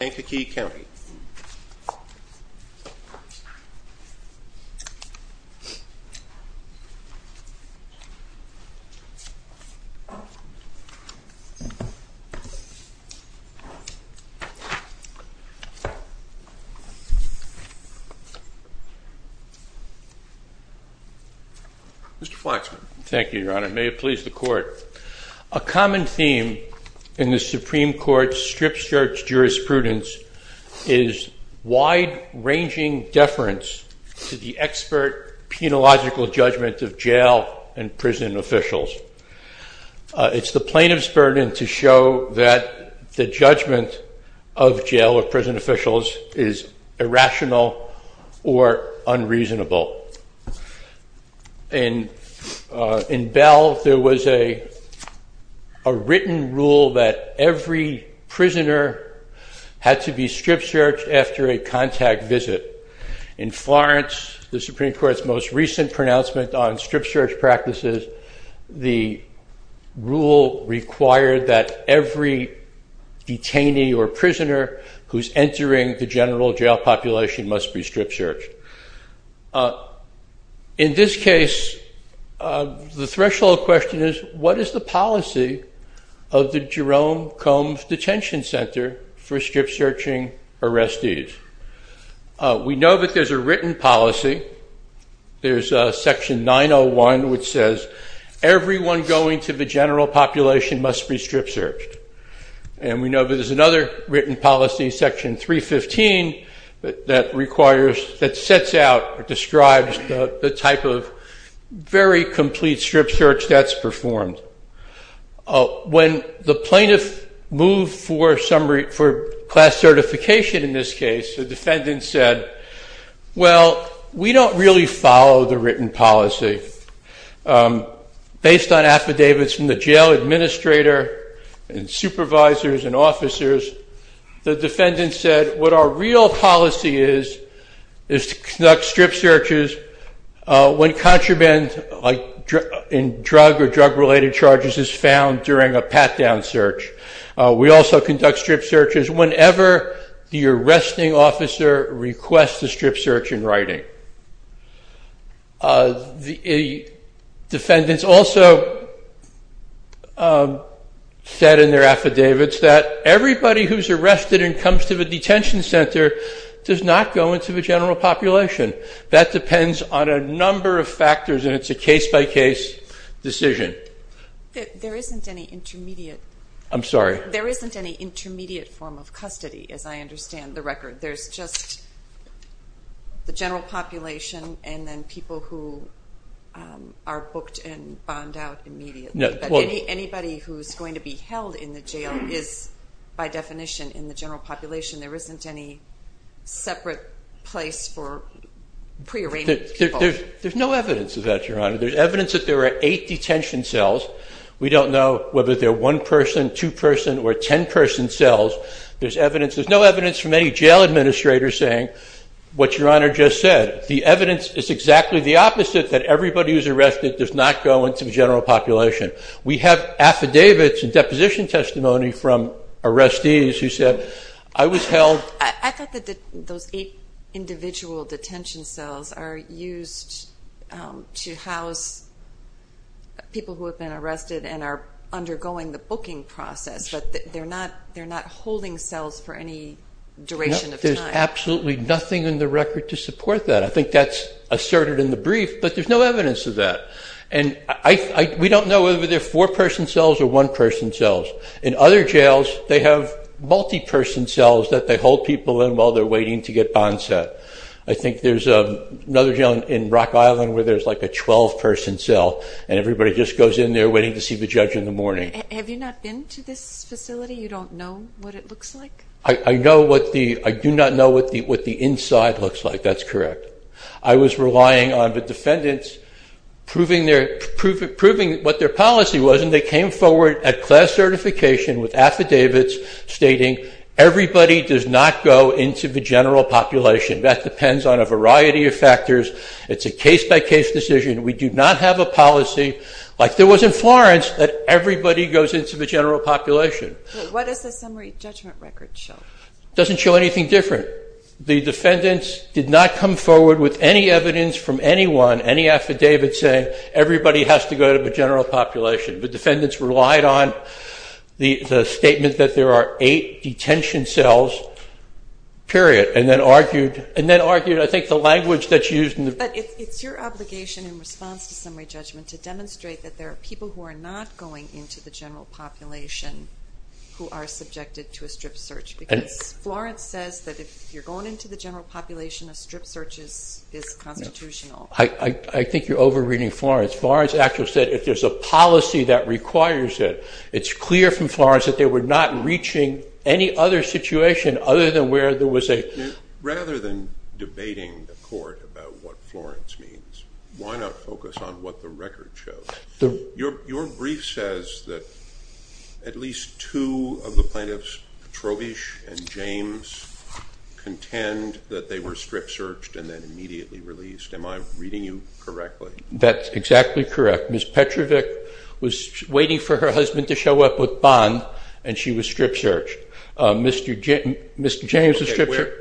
Mr. Flaxman. Thank you, Your Honor. May it please the Court. A common theme in the Supreme Court strip-search jurisprudence is wide-ranging deference to the expert penological judgment of jail and prison officials. It's the plaintiff's burden to show that the judgment of jail or prison officials is irrational or unreasonable. In Bell, there was a written rule that every prisoner had to be strip-searched after a contact visit. In Florence, the Supreme Court's most recent pronouncement on strip-search practices, the rule required that every detainee or In this case, the threshold question is, what is the policy of the Jerome Combs Detention Center for strip-searching arrestees? We know that there's a written policy, there's section 901, which says everyone going to the general population must be strip-searched. And we know that there's another written policy, section 315, that requires, that sets out or describes the type of very complete strip-search that's performed. When the plaintiff moved for class certification in this case, the defendant said, well, we don't really follow the written policy. Based on affidavits from the jail administrator and supervisors and officers, the defendant said, what our real policy is, is to conduct strip-searches when contraband in drug or drug-related charges is found during a pat-down search. We also conduct strip-searches whenever the arresting officer requests a strip-search in writing. The defendants also said in their affidavits that everybody who's arrested and comes to the detention center does not go into the general population. That depends on a number of factors and it's a case-by-case decision. There isn't any intermediate form of custody, as I know, for the general population and then people who are booked and bond out immediately. Anybody who's going to be held in the jail is, by definition, in the general population. There isn't any separate place for pre-arraignment people. There's no evidence of that, Your Honor. There's evidence that there are eight detention cells. We don't know whether they're one-person, two-person, or ten-person cells. There's evidence, there's no evidence from any jail administrator saying what Your Honor just said. The evidence is exactly the opposite, that everybody who's arrested does not go into the general population. We have affidavits and deposition testimony from arrestees who said, I was held. I thought that those eight individual detention cells are used to house people who have been arrested and are undergoing the booking process, but they're not holding cells for any duration of time. There's absolutely nothing in the record to support that. I think that's asserted in the brief, but there's no evidence of that. And we don't know whether they're four-person cells or one-person cells. In other jails, they have multi-person cells that they hold people in while they're waiting to get bond set. I think there's another jail in Rock Island where there's like a 12-person cell and everybody just goes in there waiting to I know what the, I do not know what the inside looks like, that's correct. I was relying on the defendants proving their, proving what their policy was and they came forward at class certification with affidavits stating everybody does not go into the general population. That depends on a variety of factors. It's a case-by-case decision. We do not have a policy like there was in Florence that everybody goes into the general population. What does the summary judgment record show? It doesn't show anything different. The defendants did not come forward with any evidence from anyone, any affidavit saying everybody has to go to the general population. The defendants relied on the statement that there are eight detention cells, period, and then argued and then argued I think the language that's used in the... But it's your obligation in response to summary judgment to demonstrate that there are people who are not going into the general population who are subjected to a strip search because Florence says that if you're going into the general population a strip search is constitutional. I think you're over-reading Florence. Florence actually said if there's a policy that requires it, it's clear from Florence that they were not reaching any other situation other than where there was a... Rather than debating the court about what the record shows, why not focus on what the record shows? Your brief says that at least two of the plaintiffs, Petrovich and James, contend that they were strip searched and then immediately released. Am I reading you correctly? That's exactly correct. Ms. Petrovich was waiting for her husband to show up with bond and she was strip searched. Mr. James was strip searched.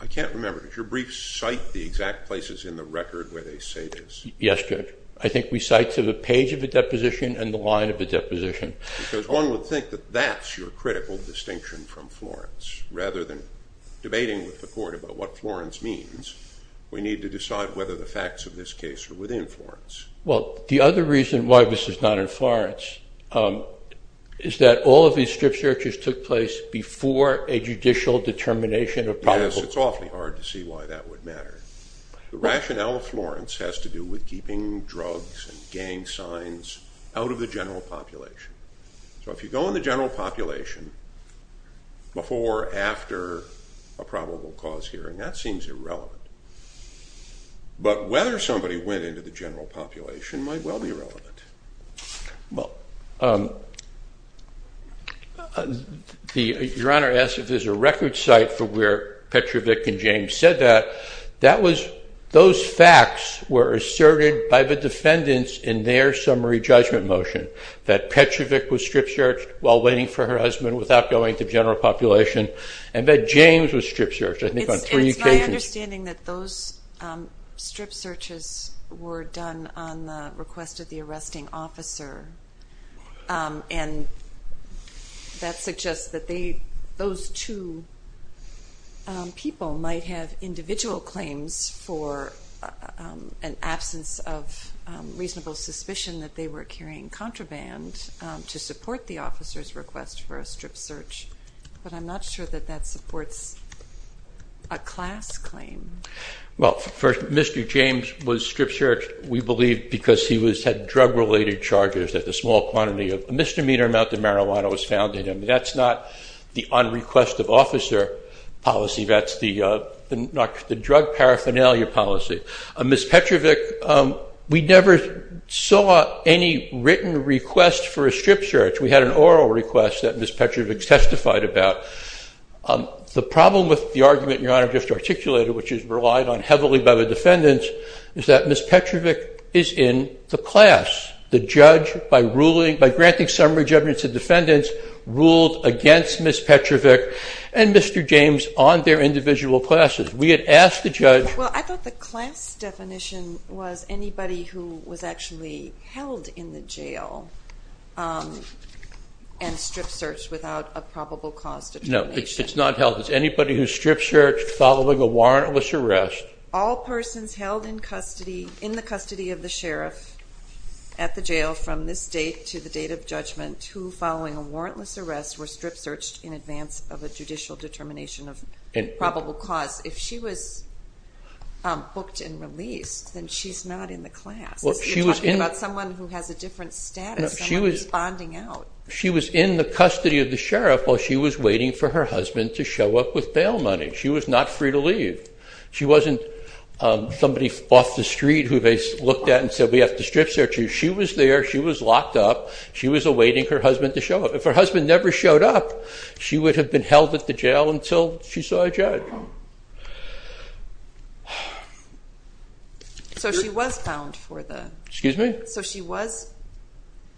I can't remember. Does your brief cite the exact places in the record where they say this? Yes, Judge. I think we cite to the page of the deposition and the line of the deposition. Because one would think that that's your critical distinction from Florence. Rather than debating with the court about what Florence means, we need to decide whether the facts of this case are within Florence. Well, the other reason why this is not in Florence is that all of these strip searches took place before a judicial determination of probable... Yes, it's awfully hard to see why that would matter. The rationale of Florence has to do with keeping drugs and gang signs out of the general population. So if you go in the general population before, after a probable cause hearing, that seems irrelevant. But whether somebody went into the general population might well be relevant. Your Honor asks if there's a record cite for where Petrovich and James said that. Those facts were asserted by the defendants in their summary judgment motion. That Petrovich was strip searched while waiting for her husband without going to general population and that James was strip searches were done on the request of the arresting officer. That suggests that those two people might have individual claims for an absence of reasonable suspicion that they were carrying contraband to support the officer's request for a strip search. But I'm not sure that that supports a class claim. Well, for Mr. James was strip searched we believe because he was had drug-related charges that the small quantity of misdemeanor amount of marijuana was found in him. That's not the on request of officer policy, that's the drug paraphernalia policy. Ms. Petrovich, we never saw any written request for a strip search. We had an oral request that Ms. Petrovich testified about. The problem with the argument your honor just articulated which is relied on heavily by the defendants is that Ms. Petrovich is in the class. The judge by ruling by granting summary judgments of defendants ruled against Ms. Petrovich and Mr. James on their individual classes. We had asked the judge. Well, I thought the class definition was anybody who was actually held in the jail and strip-searched without a probable cause. No, it's not held. It's anybody who's strip-searched following a warrantless arrest. All persons held in custody in the custody of the sheriff at the jail from this date to the date of judgment who following a warrantless arrest were strip-searched in advance of a judicial determination of probable cause. If she was booked and released, then she's not in the class. You're talking about someone who has a different status. She was in the custody of the sheriff while she was waiting for her husband to show up with bail money. She was not free to leave. She wasn't somebody off the street who they looked at and said we have to strip search you. She was there, she was locked up, she was awaiting her husband to show up. If her husband never showed up, she would have been held at the jail until she saw a judge. So she was bound for the, excuse me, so she was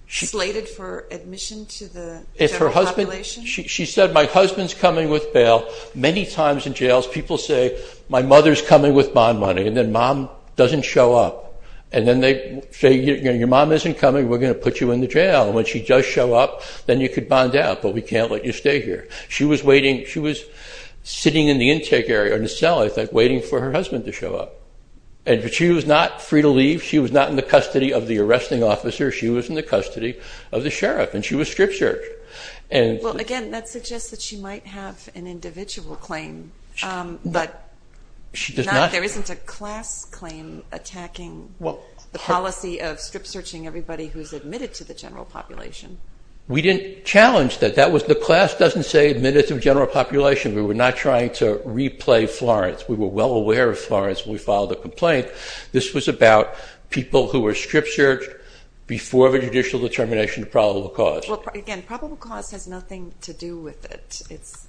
slated for admission to the, if her husband, she said my husband's coming with bail. Many times in jails people say my mother's coming with bond money and then mom doesn't show up and then they say your mom isn't coming we're going to put you in the jail. When she does show up then you could bond out but we can't let you stay here. She was waiting, she was sitting in the intake area in the cell I think waiting for her husband to show up. And she was not free to leave, she was not in the custody of the arresting officer, she was in the custody of the sheriff and she was strip-searched. Well again that suggests that she might have an individual claim but there isn't a class claim attacking the policy of strip-searching everybody who's admitted to the general population. We didn't challenge that, that was the class doesn't say admitted to general population. We were not trying to replay Florence. We were well aware of Florence when we filed a complaint. This was about people who were strip-searched before the judicial determination of probable cause. Well again probable cause has nothing to do with it. It's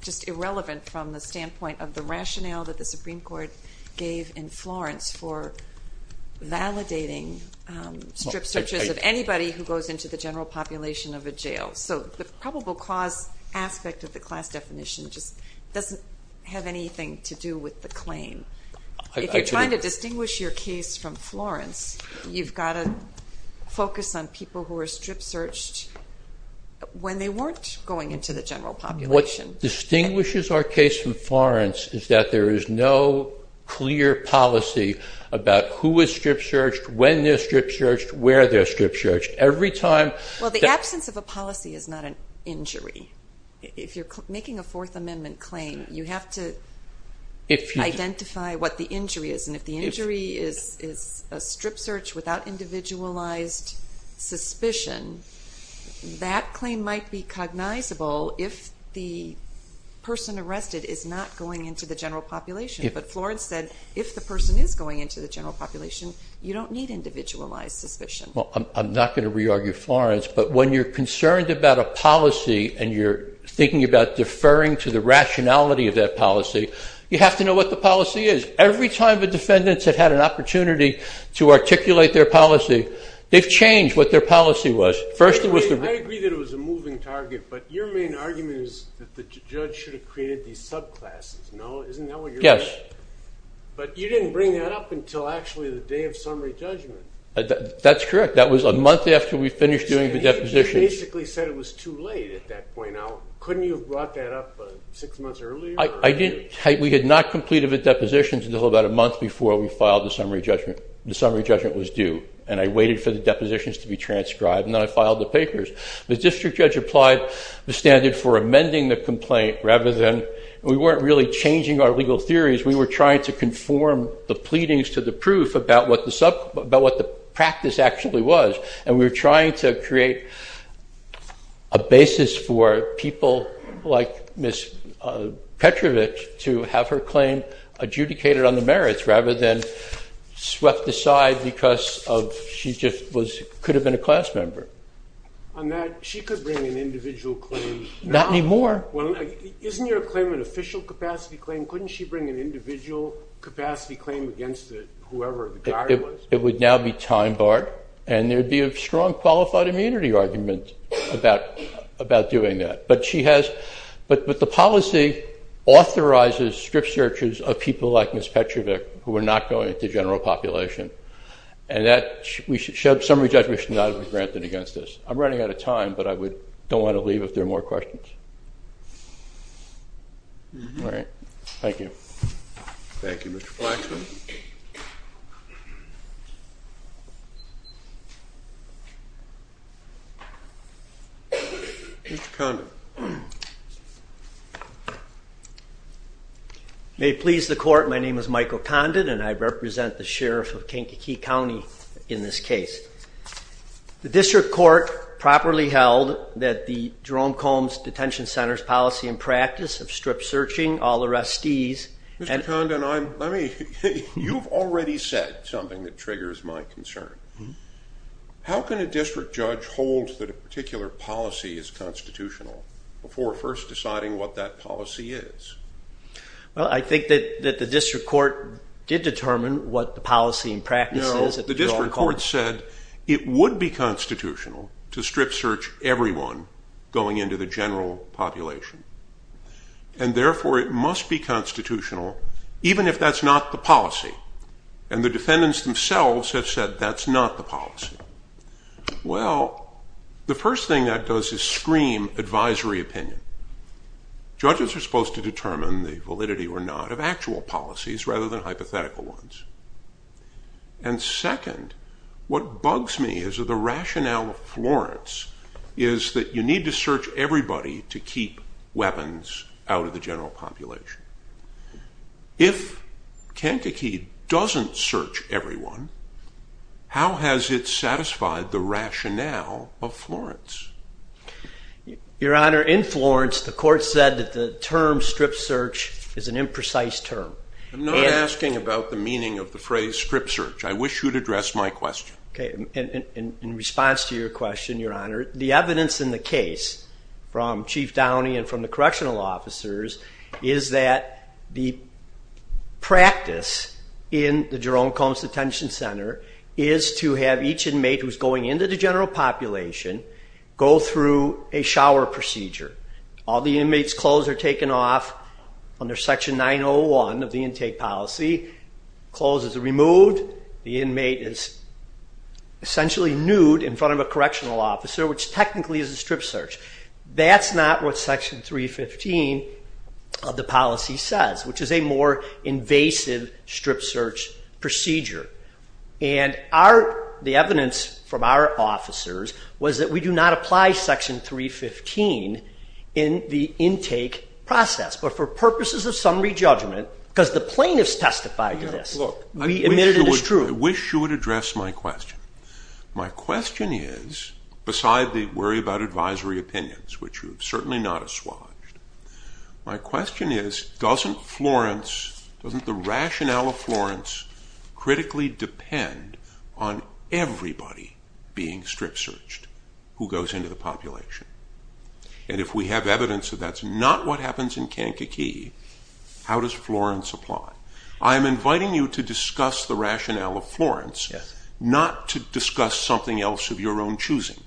just irrelevant from the standpoint of the rationale that the Supreme Court gave in Florence for validating strip searches of anybody who so the probable cause aspect of the class definition just doesn't have anything to do with the claim. If you're trying to distinguish your case from Florence you've got to focus on people who are strip-searched when they weren't going into the general population. What distinguishes our case from Florence is that there is no clear policy about who is strip-searched, when they're strip- searched. The policy is not an injury. If you're making a Fourth Amendment claim you have to identify what the injury is and if the injury is a strip-search without individualized suspicion that claim might be cognizable if the person arrested is not going into the general population, but Florence said if the person is going into the general population you don't need individualized suspicion. I'm not going to re-argue Florence but when you're concerned about a policy and you're thinking about deferring to the rationality of that policy you have to know what the policy is. Every time the defendants have had an opportunity to articulate their policy they've changed what their policy was. First it was the I agree that it was a moving target but your main argument is that the judge should have created these subclasses, no? Isn't that what you're saying? Yes. But you didn't bring that up until actually the day of summary judgment. That's correct, that was a month after we finished doing the deposition. You basically said it was too late at that point. Couldn't you have brought that up six months earlier? I didn't, we had not completed the depositions until about a month before we filed the summary judgment. The summary judgment was due and I waited for the depositions to be transcribed and then I filed the papers. The district judge applied the standard for amending the complaint rather than, we weren't really changing our legal theories, we were trying to conform the pleadings to the proof about what the practice actually was and we were trying to create a basis for people like Ms. Petrovich to have her claim adjudicated on the merits rather than swept aside because she just could have been a capacity claim, couldn't she bring an individual capacity claim against it, whoever the guy was? It would now be time barred and there'd be a strong qualified immunity argument about doing that but she has, but the policy authorizes strip searches of people like Ms. Petrovich who are not going at the general population and that we should, summary judgment should not have been granted against this. I'm running out of time but I would, don't want to leave if there are more questions. All right, thank you. Thank you, Mr. Flaxman. May it please the court, my name is Michael Condon and I represent the district court. It is generally held that the Jerome Combs Detention Center's policy and practice of strip searching all arrestees... Mr. Condon, you've already said something that triggers my concern. How can a district judge hold that a particular policy is constitutional before first deciding what that policy is? Well, I think that the district court did determine what the policy and practice is. No, the district court said it would be constitutional to strip search everyone going into the general population and therefore it must be constitutional even if that's not the policy and the defendants themselves have said that's not the policy. Well, the first thing that does is scream advisory opinion. Judges are supposed to determine the validity or not of actual policies rather than hypothetical ones and second what bugs me is that the rationale of Florence is that you need to search everybody to keep weapons out of the general population. If Kankakee doesn't search everyone, how has it satisfied the rationale of Florence? Your Honor, in Florence the court said that the term strip search is an imprecise term. I'm not asking about the meaning of the phrase strip search. I wish you'd address my question. Okay, in response to your question, Your Honor, the evidence in the case from Chief Downey and from the correctional officers is that the practice in the Jerome Combs Detention Center is to have each inmate who's going into the general population go through a shower procedure. All the inmates clothes are taken off under section 901 of the intake policy. Clothes are removed. The inmate is essentially nude in front of a correctional officer which technically is a strip search. That's not what section 315 of the policy says which is a more invasive strip search procedure and the evidence from our purposes of summary judgment because the plaintiffs testified to this. I wish you would address my question. My question is, beside the worry about advisory opinions which you've certainly not assuaged, my question is doesn't Florence, doesn't the rationale of Florence critically depend on everybody being strip searched who goes into the population and if we have evidence that that's not what happens in Kankakee, how does Florence apply? I am inviting you to discuss the rationale of Florence, not to discuss something else of your own choosing.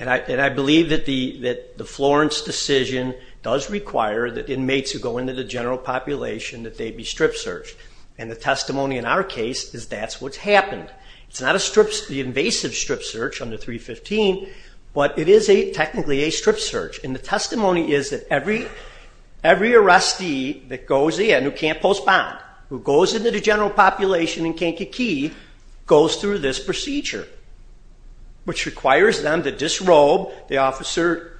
And I believe that the Florence decision does require that inmates who go into the general population that they be strip searched and the testimony in our case is that's what's happened. It's not a invasive strip search under 315, but it is technically a strip search. In testimony is that every arrestee that goes in who can't postpone, who goes into the general population in Kankakee goes through this procedure which requires them to disrobe, the officer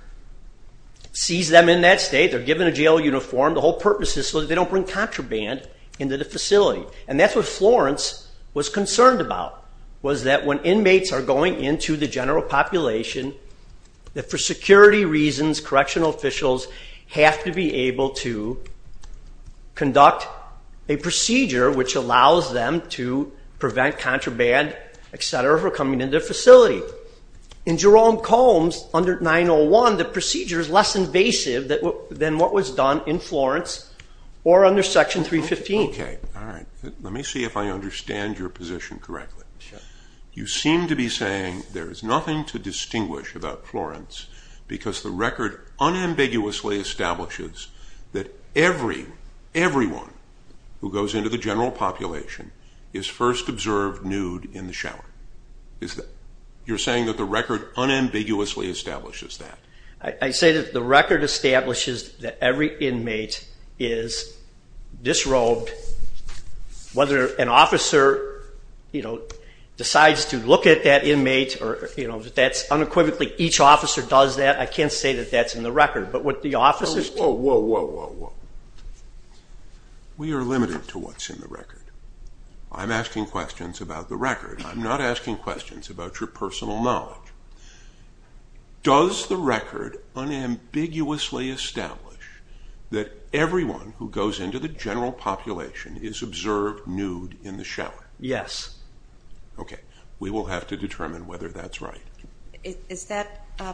sees them in that state, they're given a jail uniform, the whole purpose is so they don't bring contraband into the facility. And that's what Florence was concerned about was that when inmates are going into the general population that for security reasons correctional officials have to be able to conduct a procedure which allows them to prevent contraband, etc., for coming into the facility. In Jerome Combs under 901 the procedure is less invasive than what was done in Florence or under section 315. Okay, all right. Let me see if I understand your position correctly. You seem to be saying there is nothing to distinguish about Florence because the record unambiguously establishes that everyone who goes into the general population is first observed nude in the shower. You're saying that the record unambiguously establishes that? I say that the record establishes that every inmate is disrobed whether an officer decides to Each officer does that. I can't say that that's in the record, but what the officers do... Whoa, whoa, whoa, whoa. We are limited to what's in the record. I'm asking questions about the record. I'm not asking questions about your personal knowledge. Does the record unambiguously establish that everyone who goes into the general population is observed nude in the shower? Yes. Okay, we will have to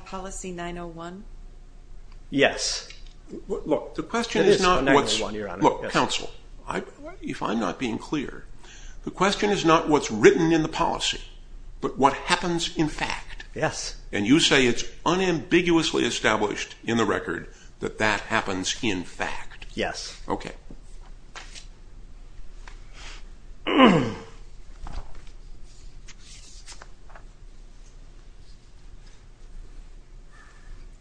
policy 901? Yes. Look, counsel, if I'm not being clear, the question is not what's written in the policy, but what happens in fact. Yes. And you say it's unambiguously established in the record that that happens in fact. Yes. Okay.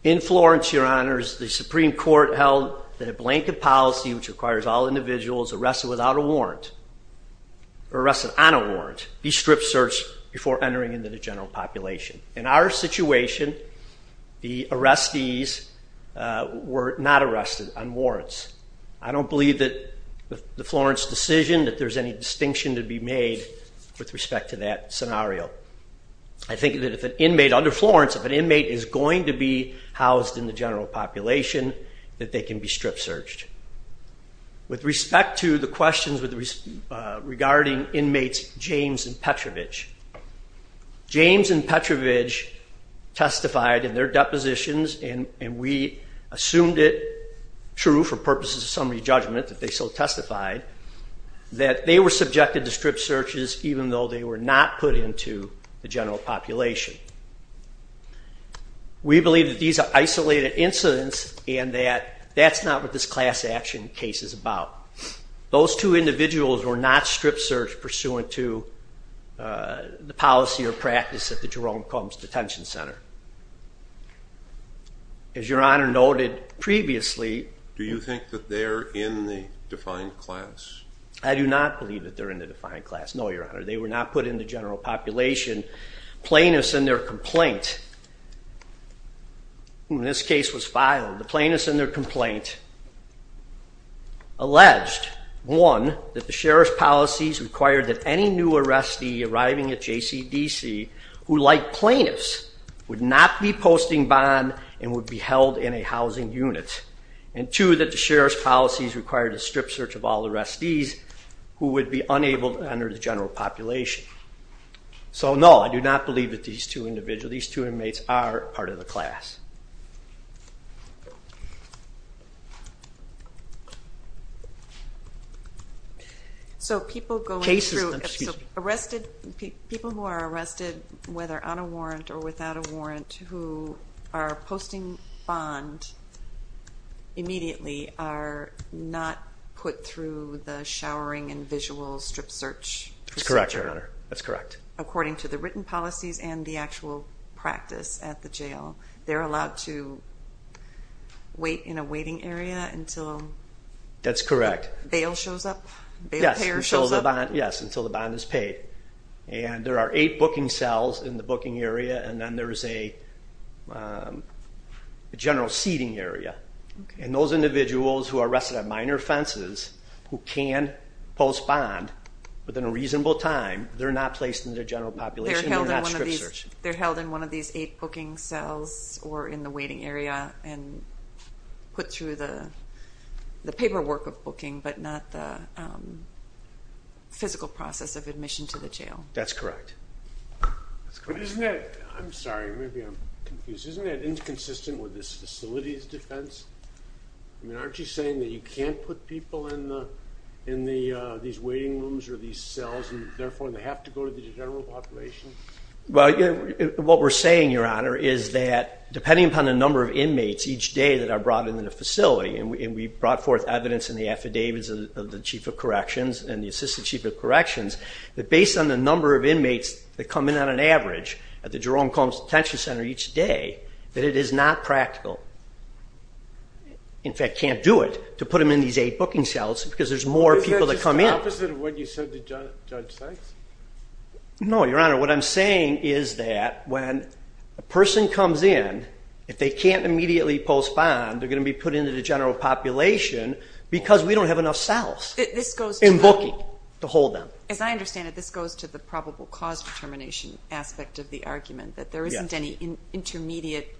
In Florence, Your Honors, the Supreme Court held that a blanket policy which requires all individuals arrested without a warrant or arrested on a warrant be strip-searched before entering into the general population. In our situation, the arrestees were not arrested on warrants. I don't believe that the Florence decision that there's any distinction to be made with respect to that scenario. I think that if an inmate under Florence, if an inmate is going to be housed in the general population, that they can be strip- searched. With respect to the questions regarding inmates James and Petrovich, James and Petrovich testified in their depositions, and we assumed it true for purposes of summary judgment that they so testified, that they were not put into the general population. We believe that these are isolated incidents and that that's not what this class action case is about. Those two individuals were not strip-searched pursuant to the policy or practice at the Jerome Combs Detention Center. As Your Honor noted previously... Do you think that they're in the defined class? I do not believe that they're in the general population. Plaintiffs in their complaint, when this case was filed, the plaintiffs in their complaint alleged, one, that the sheriff's policies required that any new arrestee arriving at JCDC, who like plaintiffs, would not be posting bond and would be held in a housing unit, and two, that the sheriff's policies required a strip search of all arrestees who would be unable to enter the general population. So no, I do not believe that these two individuals, these two inmates, are part of the class. So people going through, arrested, people who are arrested whether on a warrant or without a warrant, who are posting bond immediately are not put through the showering and visual strip search procedure? That's correct, Your Honor. That's correct. According to the written policies and the actual practice at the jail, they're allowed to wait in a waiting area until... That's correct. Bail shows up? Yes, until the bond is paid. And there are eight booking cells in the booking area and then there is a general seating area. And those individuals who are arrested on minor offenses, who can post bond within a reasonable time, they're not placed in the general population. They're held in one of these eight booking cells or in the waiting area and put through the paperwork of booking but not the physical process of admission to the jail. That's correct. Isn't that, I'm sorry, maybe I'm confused, isn't that inconsistent with this facility's defense? I mean, aren't you saying that you can't put people in these waiting rooms or these cells and therefore they have to go to the general population? Well, what we're saying, Your Honor, is that depending upon the number of inmates each day that are brought into the facility, and we brought forth evidence in the affidavits of the Chief of Corrections and the Assistant Chief of Corrections, that based on the number of inmates that come in on an average at the Jerome Combs Detention Center each day, that it is not practical. In fact, can't do it to put them in these eight booking cells because there's more people that come in. Is that just the opposite of what you said to Judge Sykes? No, Your Honor, what I'm saying is that when a person comes in, if they can't immediately post bond, they're going to be put into the general population because we don't have enough cells in booking to hold them. As I understand it, this goes to the probable cause determination aspect of the argument, that there isn't any intermediate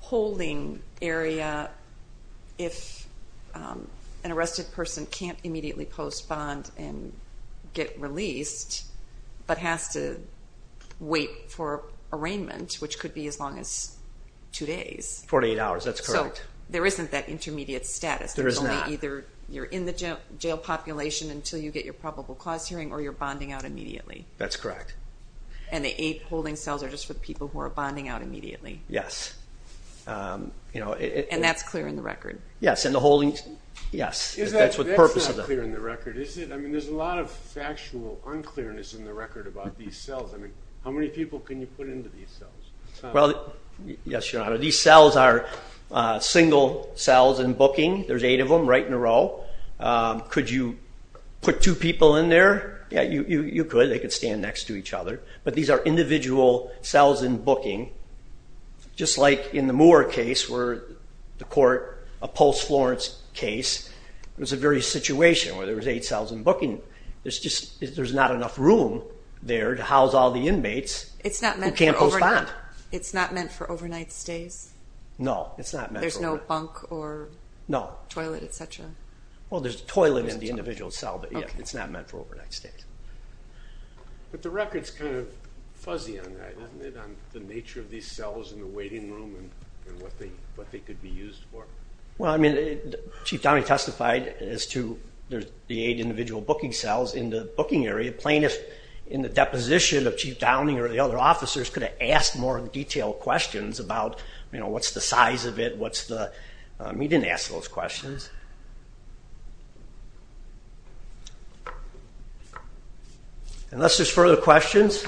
holding area if an arrested person can't immediately post bond and get released, but has to wait for arraignment, which could be as long as two days. 48 hours, that's correct. So there isn't that intermediate status. There is not. You're in the jail population until you get your probable cause hearing or you're bonding out immediately. That's correct. And the eight holding cells are just for people who are bonding out immediately. Yes. And that's clear in the record. Yes, and the holdings, yes, that's what the purpose of the... That's not clear in the record, is it? I mean, there's a lot of factual unclearness in the record about these cells. I mean, how many people can you put into these cells? Well, yes, Your Honor, these cells are single cells in booking. There's eight of them right in a row. Could you put two people in there? Yeah, you could. They could stand next to each other, but these are individual cells in booking, just like in the Moore case where the court, a post-Florence case, was a very situation where there was eight cells in booking. There's just, there's not enough room there to house all the inmates who can't postpone. It's not meant for overnight stays? No, it's not. There's no bunk or toilet, etc.? Well, there's a toilet in the individual cell, but yeah, it's not meant for overnight stays. But the record's kind of fuzzy on that, isn't it, on the nature of these cells in the waiting room and what they could be used for? Well, I mean, Chief Downey testified as to the eight individual booking cells in the booking area. A plaintiff, in the deposition of Chief Downey or the other officers, could have asked more detailed questions about, you know, what's the size of it, what's the... He didn't ask those questions. Unless there's further questions,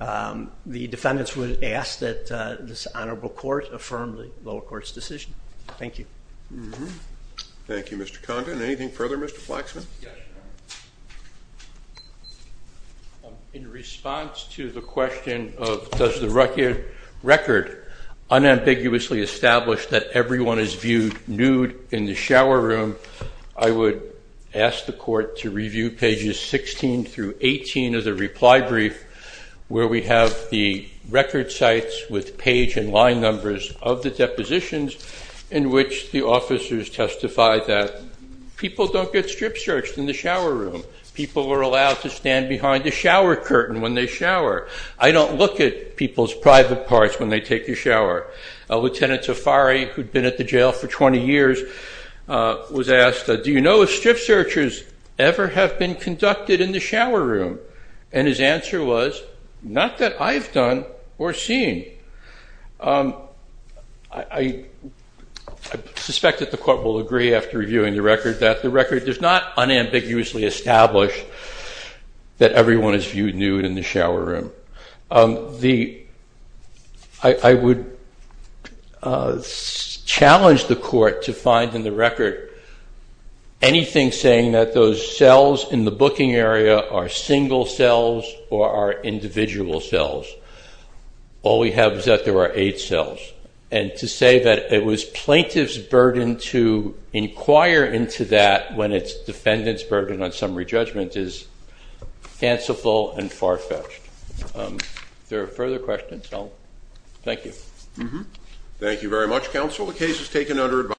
the defendants would ask that this honorable court affirm the lower court's decision. Thank you. Thank you, Mr. Condon. Anything further, Mr. Flaxman? In response to the question of does the record unambiguously establish that everyone is viewed nude in the shower room, I would ask the court to review pages 16 through 18 of the reply brief, where we have the record sites with page and line numbers of the depositions in which the officers testified that people don't get strip searched in the shower room. People were allowed to stand behind the shower curtain when they shower. I don't look at people's private parts when they take a shower. Lieutenant Tafari, who'd been at the jail for 20 years, was asked, do you know if strip searchers ever have been conducted in the shower room? And his answer was, not that I've done or seen. I suspect that the court will agree after reviewing the record that the record does not unambiguously establish that everyone is viewed nude in the shower room. I would challenge the court to find in the record anything saying that those cells in the booking area are single cells or are individual cells. All we have is that there are eight cells. And to say that it was plaintiff's burden to inquire into that when it's defendant's burden on summary judgment is fanciful and far-fetched. If there are further questions, I'll... Thank you. Thank you very much, counsel. The case is taken under advice...